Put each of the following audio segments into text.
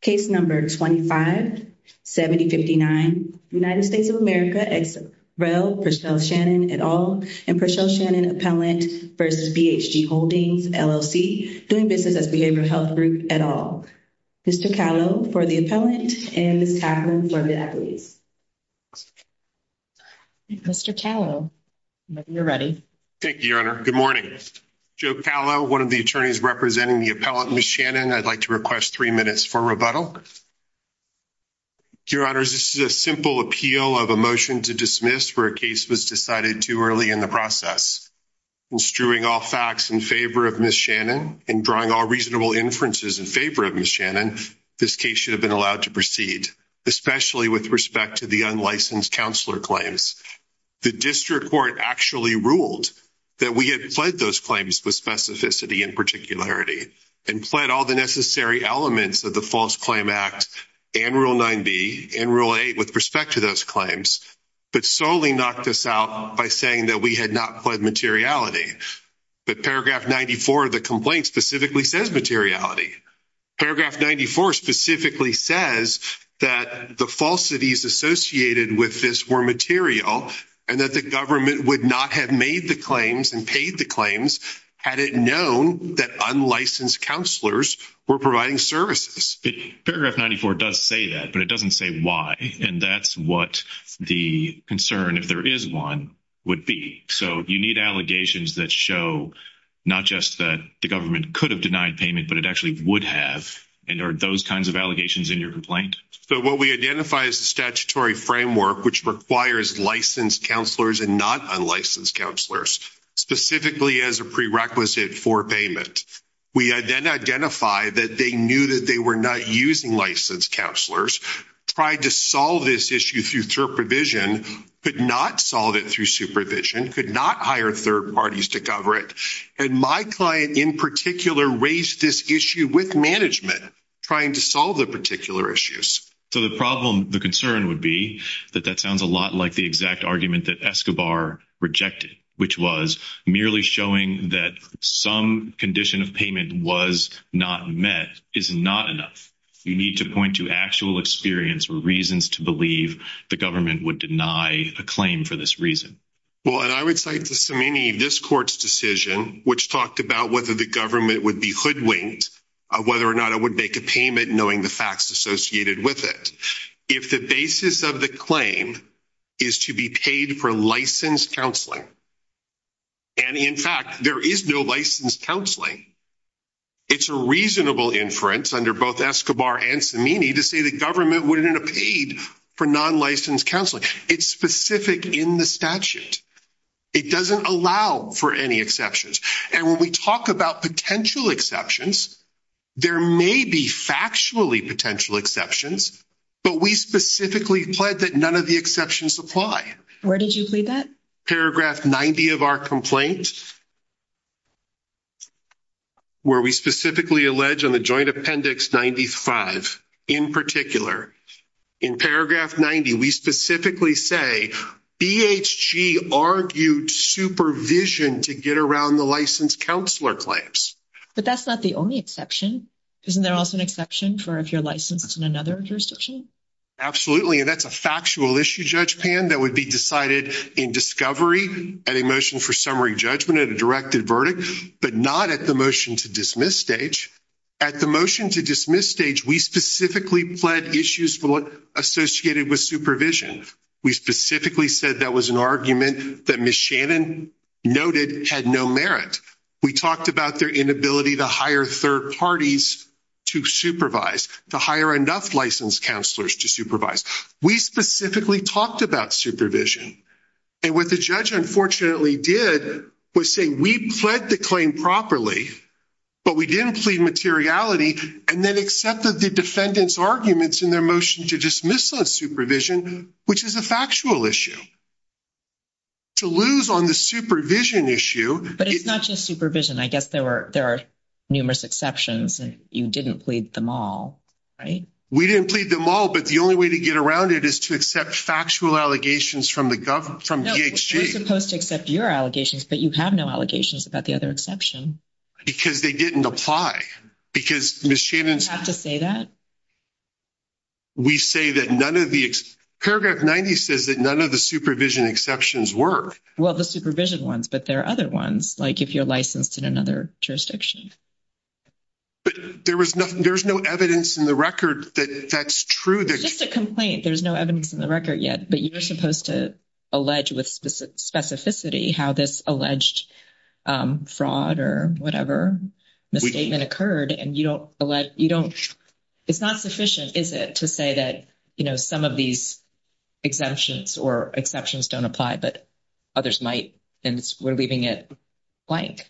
Case number 25-70-59. United States of America ex rel. Prechelle Shannon et al. and Prechelle Shannon Appellant v. BHG Holdings, LLC. Doing business as Behavioral Health Group et al. Mr. Calo for the appellant and Ms. Catlin for the appellees. Mr. Calo, you're ready. Thank you, Your Honor. Good morning. Joe Calo, one of the attorneys representing the appellant, Ms. Shannon. I'd like to request three minutes for rebuttal. Your Honors, this is a simple appeal of a motion to dismiss where a case was decided too early in the process. In strewing all facts in favor of Ms. Shannon and drawing all reasonable inferences in favor of Ms. Shannon, this case should have been allowed to proceed, especially with respect to the unlicensed counselor claims. The district court actually ruled that we had pled those claims with specificity and particularity and pled all the necessary elements of the False Claim Act and Rule 9b and Rule 8 with respect to those claims, but solely knocked us out by saying that we had not pled materiality. But paragraph 94 of the complaint specifically says materiality. Paragraph 94 specifically says that the falsities associated with this were material and that the government would not have made the claims and paid the claims had it known that unlicensed counselors were providing services. Paragraph 94 does say that, but it doesn't say why, and that's what the concern, if there is one, would be. So you need allegations that show not just that the government could have denied payment, but it actually would have. And are those kinds of allegations in your complaint? So what we identify as the statutory framework, which requires licensed counselors and not unlicensed counselors, specifically as a prerequisite for payment, we then identify that they knew that they were not using licensed counselors, tried to solve this issue through supervision, could not solve it through supervision, could not hire third parties to cover it. And my client in particular raised this issue with management trying to solve the particular issues. So the problem, the concern would be that that sounds a lot like the exact argument that Escobar rejected, which was merely showing that some condition of payment was not met is not enough. You need to point to actual experience or reasons to believe the government would deny a claim for this reason. Well, and I would cite the Samini discourse decision, which talked about whether the government would be hoodwinked, whether or not it would make a payment, knowing the facts associated with it. If the basis of the claim is to be paid for licensed counseling, and in fact there is no licensed counseling, it's a reasonable inference under both Escobar and Samini to say the government wouldn't have paid for non-licensed counseling. It's specific in the statute. It doesn't allow for any exceptions. And when we talk about potential exceptions, there may be factually potential exceptions, but we specifically plead that none of the exceptions apply. Where did you plead that? Paragraph 90 of our complaint, where we specifically allege on the Joint Appendix 95 in particular, in Paragraph 90, we specifically say BHG argued supervision to get around the licensed counselor claims. But that's not the only exception. Isn't there also an exception for if you're licensed in another jurisdiction? Absolutely, and that's a factual issue, Judge Pan, that would be decided in a directed verdict, but not at the motion-to-dismiss stage. At the motion-to-dismiss stage, we specifically pled issues for what associated with supervision. We specifically said that was an argument that Ms. Shannon noted had no merit. We talked about their inability to hire third parties to supervise, to hire enough licensed counselors to supervise. We specifically talked about supervision. And what the judge unfortunately did was say, we pled the claim properly, but we didn't plead materiality, and then accepted the defendant's arguments in their motion-to-dismiss on supervision, which is a factual issue. To lose on the supervision issue... But it's not just supervision. I guess there are numerous exceptions, and you didn't plead them all, right? We didn't plead them all, but the only way to get around it is to accept factual allegations from the government, from DHG. You're supposed to accept your allegations, but you have no allegations about the other exception. Because they didn't apply. Because Ms. Shannon's... Do you have to say that? We say that none of the... Paragraph 90 says that none of the supervision exceptions were. Well, the supervision ones, but there are other ones, like if you're licensed in another jurisdiction. But there's no evidence in the record that that's true. It's just a complaint. There's no evidence in the record yet, but you're supposed to allege with specificity how this alleged fraud or whatever misstatement occurred, and you don't... It's not sufficient, is it, to say that some of these exemptions or exceptions don't apply, but others might, and we're leaving it blank.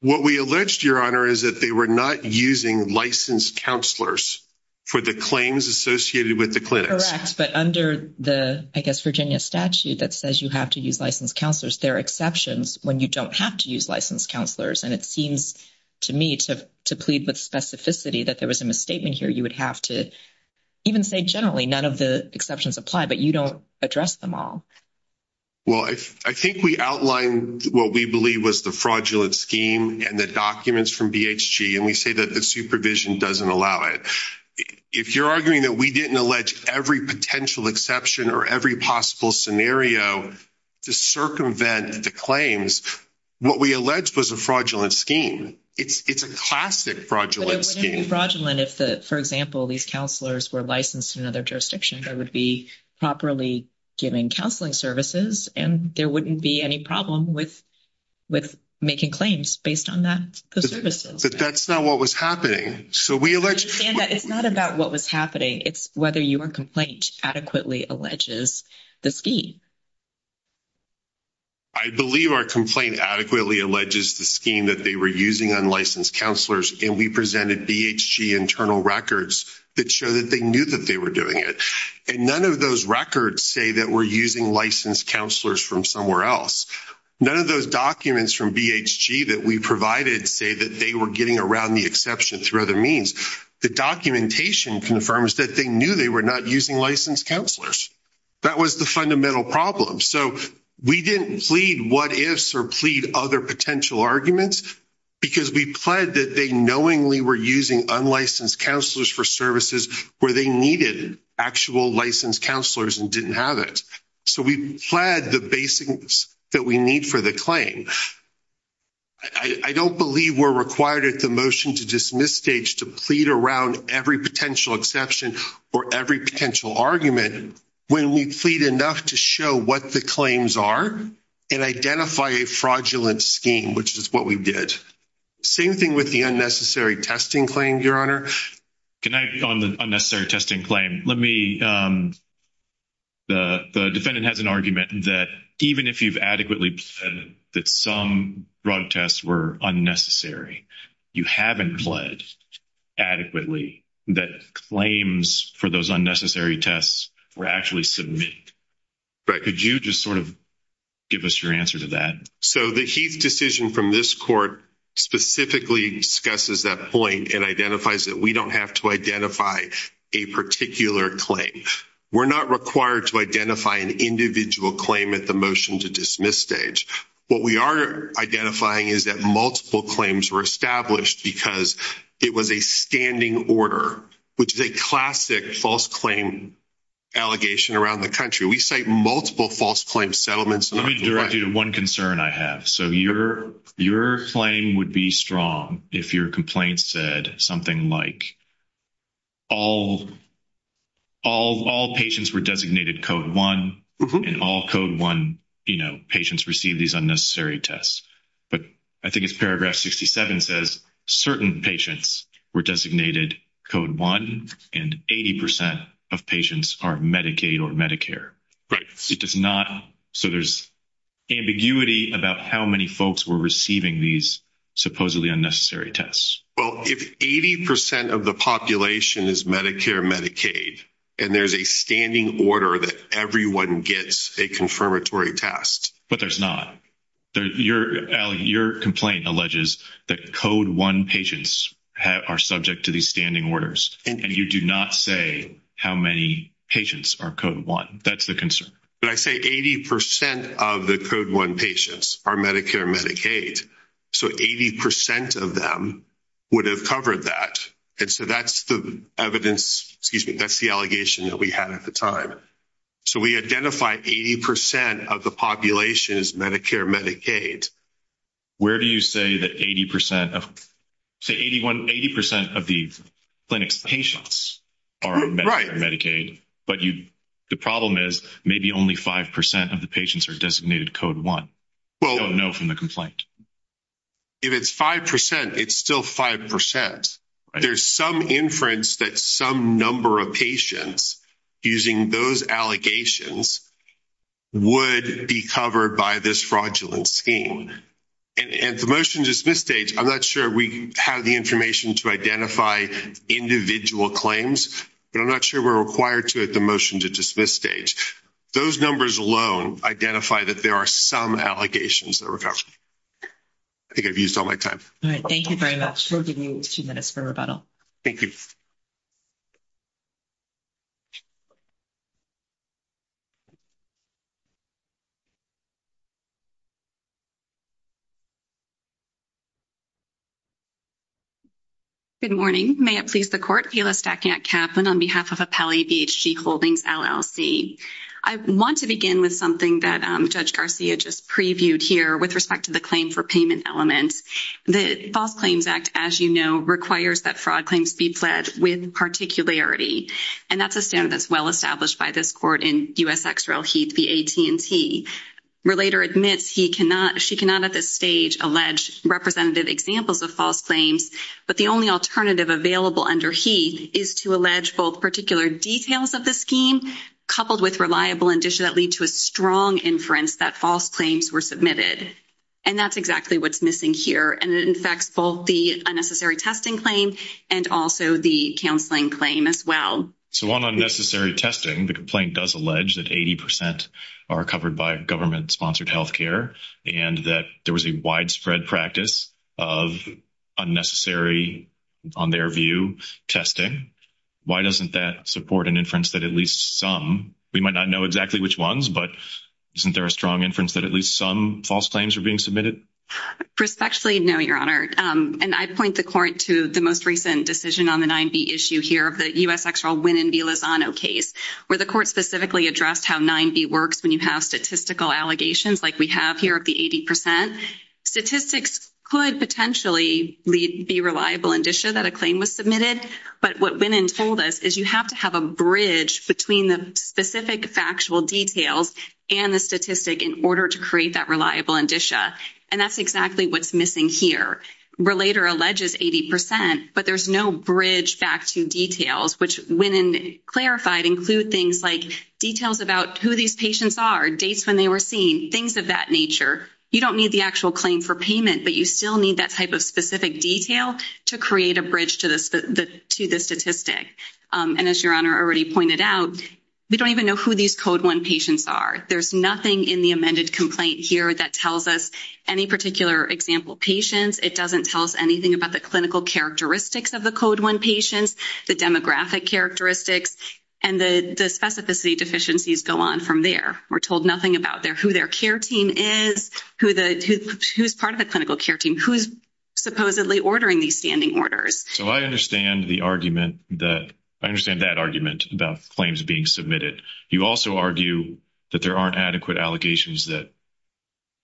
What we alleged, Your Honor, is that they were not using licensed counselors for the claims associated with the clinics. Correct. But under the, I guess, Virginia statute that says you have to use licensed counselors, there are exceptions when you don't have to use licensed counselors. And it seems to me to plead with specificity that there was a misstatement here. You would have to even say generally none of the exceptions apply, but you don't address them all. Well, I think we outlined what we believe was the fraudulent scheme and the documents from BHG, and we say that the supervision doesn't allow it. If you're arguing that we didn't allege every potential exception or every possible scenario to circumvent the claims, what we alleged was a fraudulent scheme. It's a classic fraudulent scheme. But it wouldn't be fraudulent if, for example, these counselors were licensed in another jurisdiction. They would be properly given counseling services, and there wouldn't be any problem with making claims based on that, the services. But that's not what was happening. So we alleged... I understand that. It's not about what was happening. It's whether your complaint adequately alleges the scheme. I believe our complaint adequately alleges the scheme that they were using on licensed counselors, and we presented BHG internal records that show that they knew that they were doing it. And none of those records say that we're using licensed counselors from somewhere else. None of those documents from BHG that we provided say that they were getting around the exception through other means. The documentation confirms that they knew they were not using licensed counselors. That was the fundamental problem. So we didn't plead what-ifs or plead other potential arguments because we plead that they knowingly were using unlicensed counselors for services where they needed actual licensed counselors and didn't have it. So we plead the basics that we need for the claim. I don't believe we're required at the motion to dismiss stage to plead around every potential exception or every potential argument when we plead enough to show what the claims are and identify a fraudulent scheme, which is what we did. Same thing with the unnecessary testing claim, Your Honor. On the unnecessary testing claim, let me... The defendant has an argument that even if you've adequately pleaded that some drug tests were unnecessary, you haven't pled adequately that claims for those unnecessary tests were actually submitted. Could you just sort of give us your answer to that? So the Heath decision from this court specifically discusses that point and identifies that we don't have to identify a particular claim. We're not required to identify an individual claim at the motion to dismiss stage. What we are identifying is that multiple claims were established because it was a standing order, which is a classic false claim allegation around the country. We cite multiple false claim settlements. Let me direct you to one concern I have. So your claim would be strong if your complaint said something like all patients were designated code one and all code one, you know, patients received these unnecessary tests. But I think it's paragraph 67 says certain patients were designated code one and 80% of patients are Medicaid or Medicare. Right. It does not. So there's ambiguity about how many folks were receiving these supposedly unnecessary tests. Well, if 80% of the population is Medicare, Medicaid, and there's a standing order that everyone gets a confirmatory test. But there's not. Your your complaint alleges that code one patients are subject to these standing orders, and you do not say how many patients are code one. That's the concern. But I say 80% of the code one patients are Medicare, Medicaid. So 80% of them would have covered that. And so that's the evidence. Excuse me. That's the allegation that we had at the time. So we identify 80% of the population is Medicare, Medicaid. Where do you say that 80% of 80% of the clinic's patients are Medicare, Medicaid, but you the problem is maybe only 5% of the patients are designated code one. Well, no from the complaint. If it's 5%, it's still 5%. There's some inference that some number of patients using those allegations. Would be covered by this fraudulent scheme and the motion to dismiss stage. I'm not sure we have the information to identify individual claims, but I'm not sure we're required to at the motion to dismiss stage. Those numbers alone identify that there are some allegations that recover. I think I've used all my time. All right. Thank you very much for giving me 2 minutes for rebuttal. Thank you. Good morning. May it please the court. Kayla Stackett Kaplan on behalf of Appellee BHG Holdings LLC. I want to begin with something that Judge Garcia just previewed here with respect to the with particularity, and that's a standard that's well established by this court in U.S. Ex Rel Heath v. AT&T. Relator admits she cannot at this stage allege representative examples of false claims, but the only alternative available under Heath is to allege both particular details of the scheme coupled with reliable indicia that lead to a strong inference that false claims were submitted, and that's exactly what's missing here, and it infects both the unnecessary testing claim and also the counseling claim as well. So on unnecessary testing, the complaint does allege that 80 percent are covered by government-sponsored health care and that there was a widespread practice of unnecessary, on their view, testing. Why doesn't that support an inference that at least some, we might not know exactly which ones, but isn't there a strong inference that at least some false claims are being submitted? Respectfully, no, Your Honor, and I point the court to the most recent decision on the 9B issue here of the U.S. Ex Rel Winnin v. Lozano case where the court specifically addressed how 9B works when you have statistical allegations like we have here of the 80 percent. Statistics could potentially be reliable indicia that a claim was submitted, but what Winnin told us is you have to have a bridge between the specific factual details and the statistic in order to create that reliable indicia, and that's exactly what's missing here. Relator alleges 80 percent, but there's no bridge back to details, which Winnin clarified include things like details about who these patients are, dates when they were seen, things of that nature. You don't need the actual claim for payment, but you still need that type of specific detail to create a bridge to the statistic. And as Your Honor already pointed out, we don't even know who these Code 1 patients are. There's that tells us any particular example patients. It doesn't tell us anything about the clinical characteristics of the Code 1 patients, the demographic characteristics, and the specificity deficiencies go on from there. We're told nothing about who their care team is, who's part of the clinical care team, who's supposedly ordering these standing orders. So I understand the argument that I understand that argument about claims being submitted. You also argue that there aren't adequate allegations that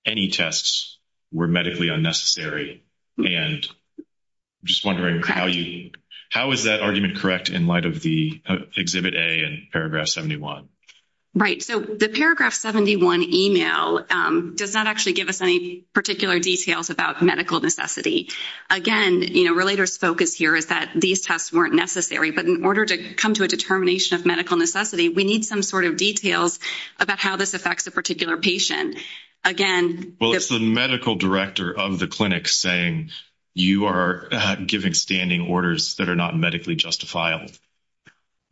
any tests were medically unnecessary, and I'm just wondering how you how is that argument correct in light of the Exhibit A and Paragraph 71? Right, so the Paragraph 71 email does not actually give us any particular details about medical necessity. Again, you know, Relator's focus here is that these tests weren't necessary, but in order to come to a determination of medical necessity, we need some sort of details about how this affects a particular patient. Again, well it's the medical director of the clinic saying you are giving standing orders that are not medically justifiable.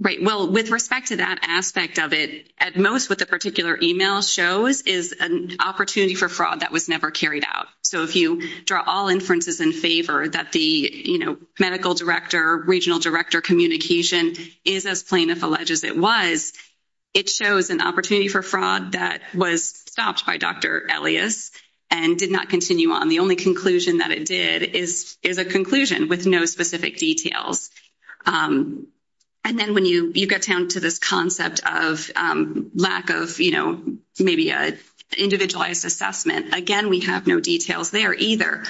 Right, well with respect to that aspect of it, at most what the particular email shows is an opportunity for fraud that was never carried out. So if you draw all inferences in favor that the, you know, medical director, regional director communication is as plain if alleged as it was, it shows an opportunity for fraud that was stopped by Dr. Elias and did not continue on. The only conclusion that it did is a conclusion with no specific details. And then when you get down to this concept of lack of, you know, maybe an individualized assessment, again we have no details there either.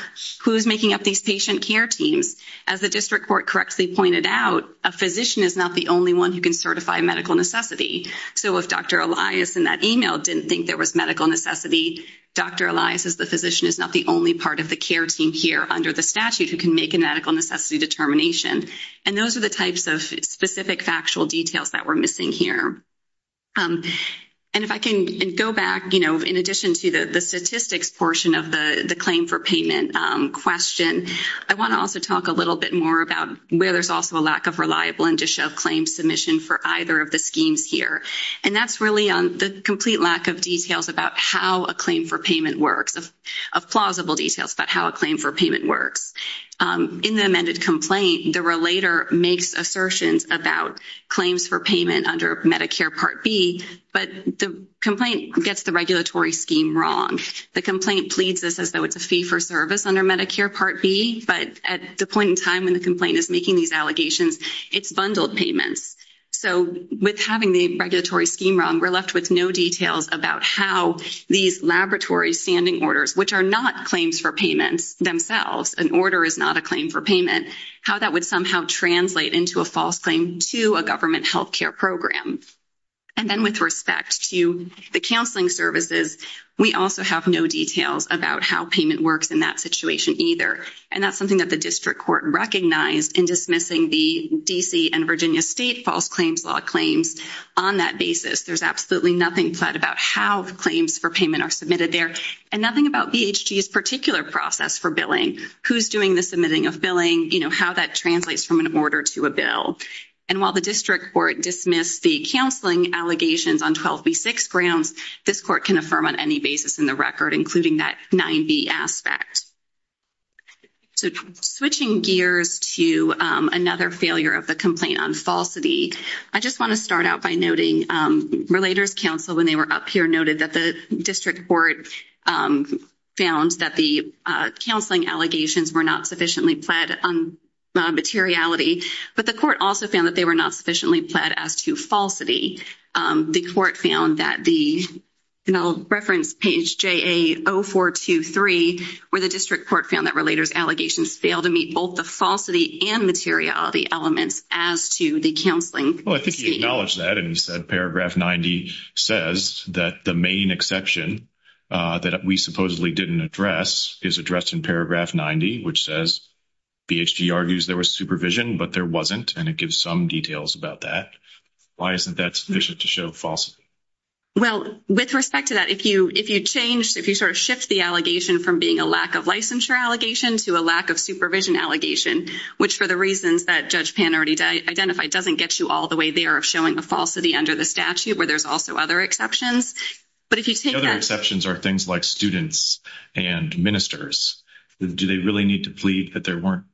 Who's making up these patient care teams? As the physician is not the only part of the care team here under the statute who can make a medical necessity determination. And those are the types of specific factual details that we're missing here. And if I can go back, you know, in addition to the statistics portion of the the claim for payment question, I want to also talk a little bit more about where there's also a lack of claim submission for either of the schemes here. And that's really on the complete lack of details about how a claim for payment works, of plausible details about how a claim for payment works. In the amended complaint, the relator makes assertions about claims for payment under Medicare Part B, but the complaint gets the regulatory scheme wrong. The complaint pleads this as though it's a fee for service under Medicare Part B, but at the point in time when the complaint is making these allegations, it's bundled payments. So with having the regulatory scheme wrong, we're left with no details about how these laboratory standing orders, which are not claims for payments themselves, an order is not a claim for payment, how that would somehow translate into a false claim to a government health care program. And then with respect to the counseling services, we also have no details about how payment works in that situation either. And that's something that the district court recognized in dismissing the D.C. and Virginia state false claims law claims on that basis. There's absolutely nothing said about how the claims for payment are submitted there and nothing about BHG's particular process for billing, who's doing the submitting of billing, you know, how that translates from an order to a bill. And while the district court dismissed the counseling allegations on 12B6 grounds, this court can affirm on any basis in the record, including that 9B aspect. So switching gears to another failure of the complaint on falsity, I just want to start out by noting Relators Council, when they were up here, noted that the district court found that the counseling allegations were not sufficiently pled on materiality, but the court also found that they were not sufficiently pled as to falsity. The court found that the, and I'll reference page JA0423, where the district court found that Relators allegations failed to meet both the falsity and materiality elements as to the counseling. Well, I think he acknowledged that and he said paragraph 90 says that the main exception that we supposedly didn't address is addressed in paragraph 90, which says BHG argues there was supervision, but there wasn't. And it gives some details about that. Why isn't that sufficient to show falsity? Well, with respect to that, if you, if you changed, if you sort of shift the allegation from being a lack of licensure allegation to a lack of supervision allegation, which for the reasons that Judge Pan already identified, doesn't get you all the way there of showing a falsity under the statute, where there's also other exceptions. But if you take that... The other exceptions are things like students and ministers. Do they really need to plead that there weren't?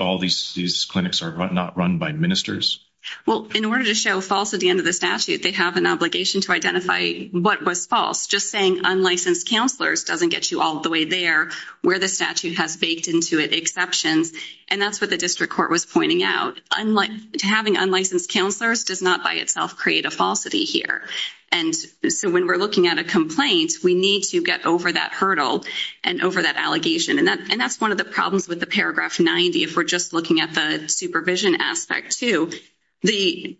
All these clinics are not run by ministers? Well, in order to show false at the end of the statute, they have an obligation to identify what was false. Just saying unlicensed counselors doesn't get you all the way there, where the statute has baked into it exceptions. And that's what the district court was pointing out. Having unlicensed counselors does not by itself create a falsity here. And so when we're looking at a complaint, we need to get over that hurdle and over that allegation. And that's one of the problems with the paragraph 90. If we're just looking at the supervision aspect too, the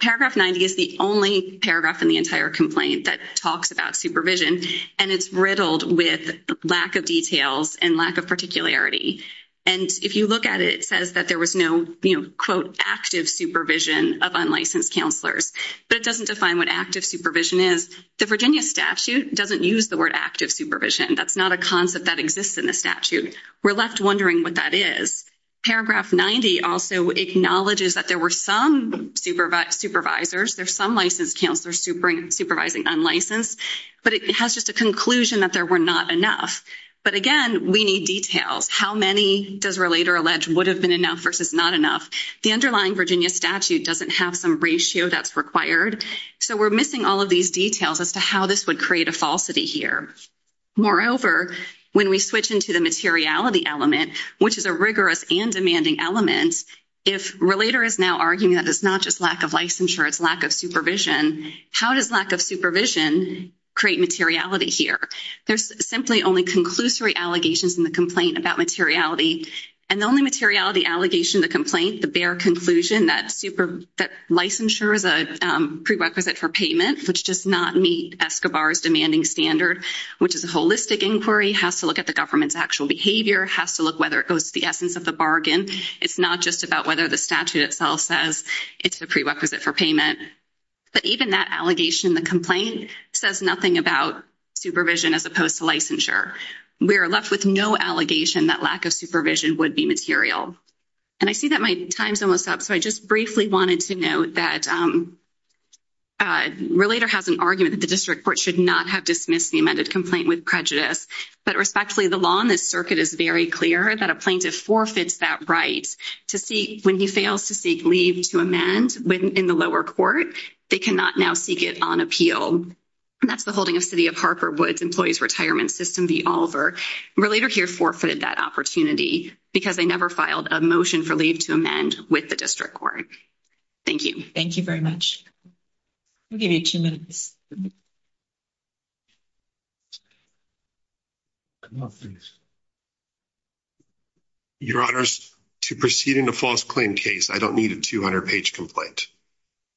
paragraph 90 is the only paragraph in the entire complaint that talks about supervision. And it's riddled with lack of details and lack of particularity. And if you look at it, it says that there was no, you know, quote, active supervision of unlicensed counselors, but it doesn't define what active supervision is. The Virginia statute doesn't use the word active supervision. That's not a concept that exists in the statute. We're left wondering what that is. Paragraph 90 also acknowledges that there were some supervisors, there's some licensed counselors supervising unlicensed, but it has just a conclusion that there were not enough. But again, we need details. How many, does Relator allege, would have been enough versus not enough? The underlying Virginia statute doesn't have some that's required. So we're missing all of these details as to how this would create a falsity here. Moreover, when we switch into the materiality element, which is a rigorous and demanding element, if Relator is now arguing that it's not just lack of licensure, it's lack of supervision, how does lack of supervision create materiality here? There's simply only conclusory allegations in the complaint about materiality. And the only materiality allegation, the complaint, the bare conclusion that licensure is a prerequisite for payment, which does not meet Escobar's demanding standard, which is a holistic inquiry, has to look at the government's actual behavior, has to look whether it goes to the essence of the bargain. It's not just about whether the statute itself says it's the prerequisite for payment. But even that allegation in the complaint says nothing about supervision as opposed to licensure. We are left with no allegation that lack of supervision would be material. And I see that my time's almost up, so I just briefly wanted to note that Relator has an argument that the district court should not have dismissed the amended complaint with prejudice. But respectfully, the law in this circuit is very clear that a plaintiff forfeits that right to seek, when he fails to seek leave to amend in the lower court, they cannot now seek it on appeal. And that's the holding of Harper Woods Employees Retirement System v. Oliver. Relator here forfeited that opportunity because they never filed a motion for leave to amend with the district court. Thank you. Thank you very much. We'll give you two minutes. Your Honors, to proceed in a false claim case, I don't need a 200-page complaint.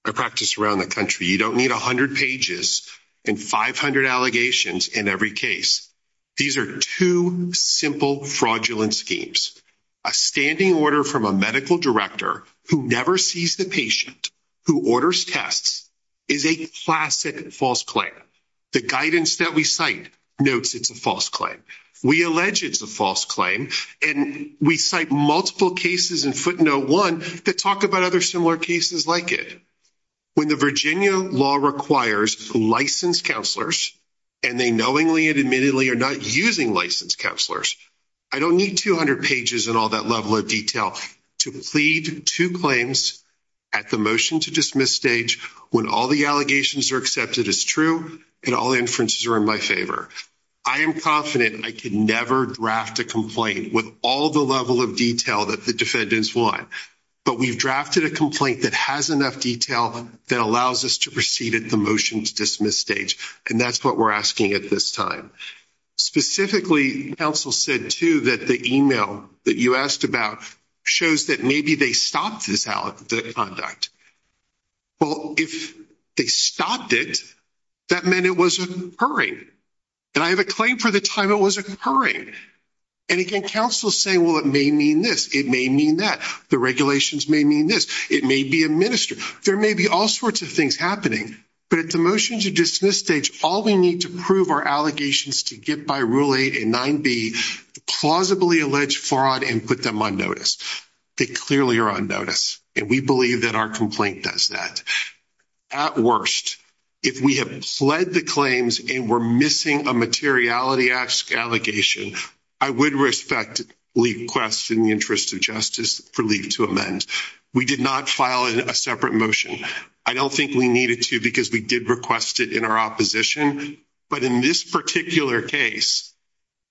I practice around the country. You don't need 100 pages and 500 allegations in every case. These are two simple fraudulent schemes. A standing order from a medical director who never sees the patient, who orders tests, is a classic false claim. The guidance that we cite notes it's a false claim. We allege it's a false claim, and we cite multiple cases in footnote one that talk about other similar cases like it. When the Virginia law requires licensed counselors, and they knowingly and admittedly are not using licensed counselors, I don't need 200 pages and all that level of detail to plead two claims at the motion to dismiss stage when all the allegations are accepted as true and all inferences are in my favor. I am confident I could never draft a complaint with all the level of detail that the defendants want, but we've drafted a complaint that has enough detail that allows us to proceed at the motion to dismiss stage, and that's what we're asking at this time. Specifically, counsel said, too, that the email that you asked about shows that maybe they stopped the conduct. Well, if they stopped it, that meant it was occurring, and I have a claim for the time it was occurring, and again, counsel is saying, well, it may mean this. It may mean that. The regulations may mean this. It may be administered. There may be all sorts of things happening, but at the motion to dismiss stage, all we need to prove are allegations to get by rule eight and nine B, plausibly allege fraud and put them on notice. They clearly are on notice, and we believe that our complaint does that. At worst, if we have pled the claims and we're missing a materiality allegation, I would respectfully request in the interest of justice for leave to amend. We did not file a separate motion. I don't think we needed to because we did request it in our opposition, but in this particular case,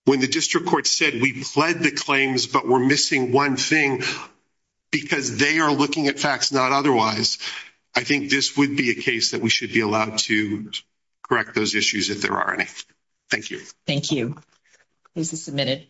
when the district court said we pled the claims but were missing one thing because they are looking at facts not otherwise, I think this would be a case that we would be allowed to correct those issues if there are any. Thank you. Thank you. This is submitted.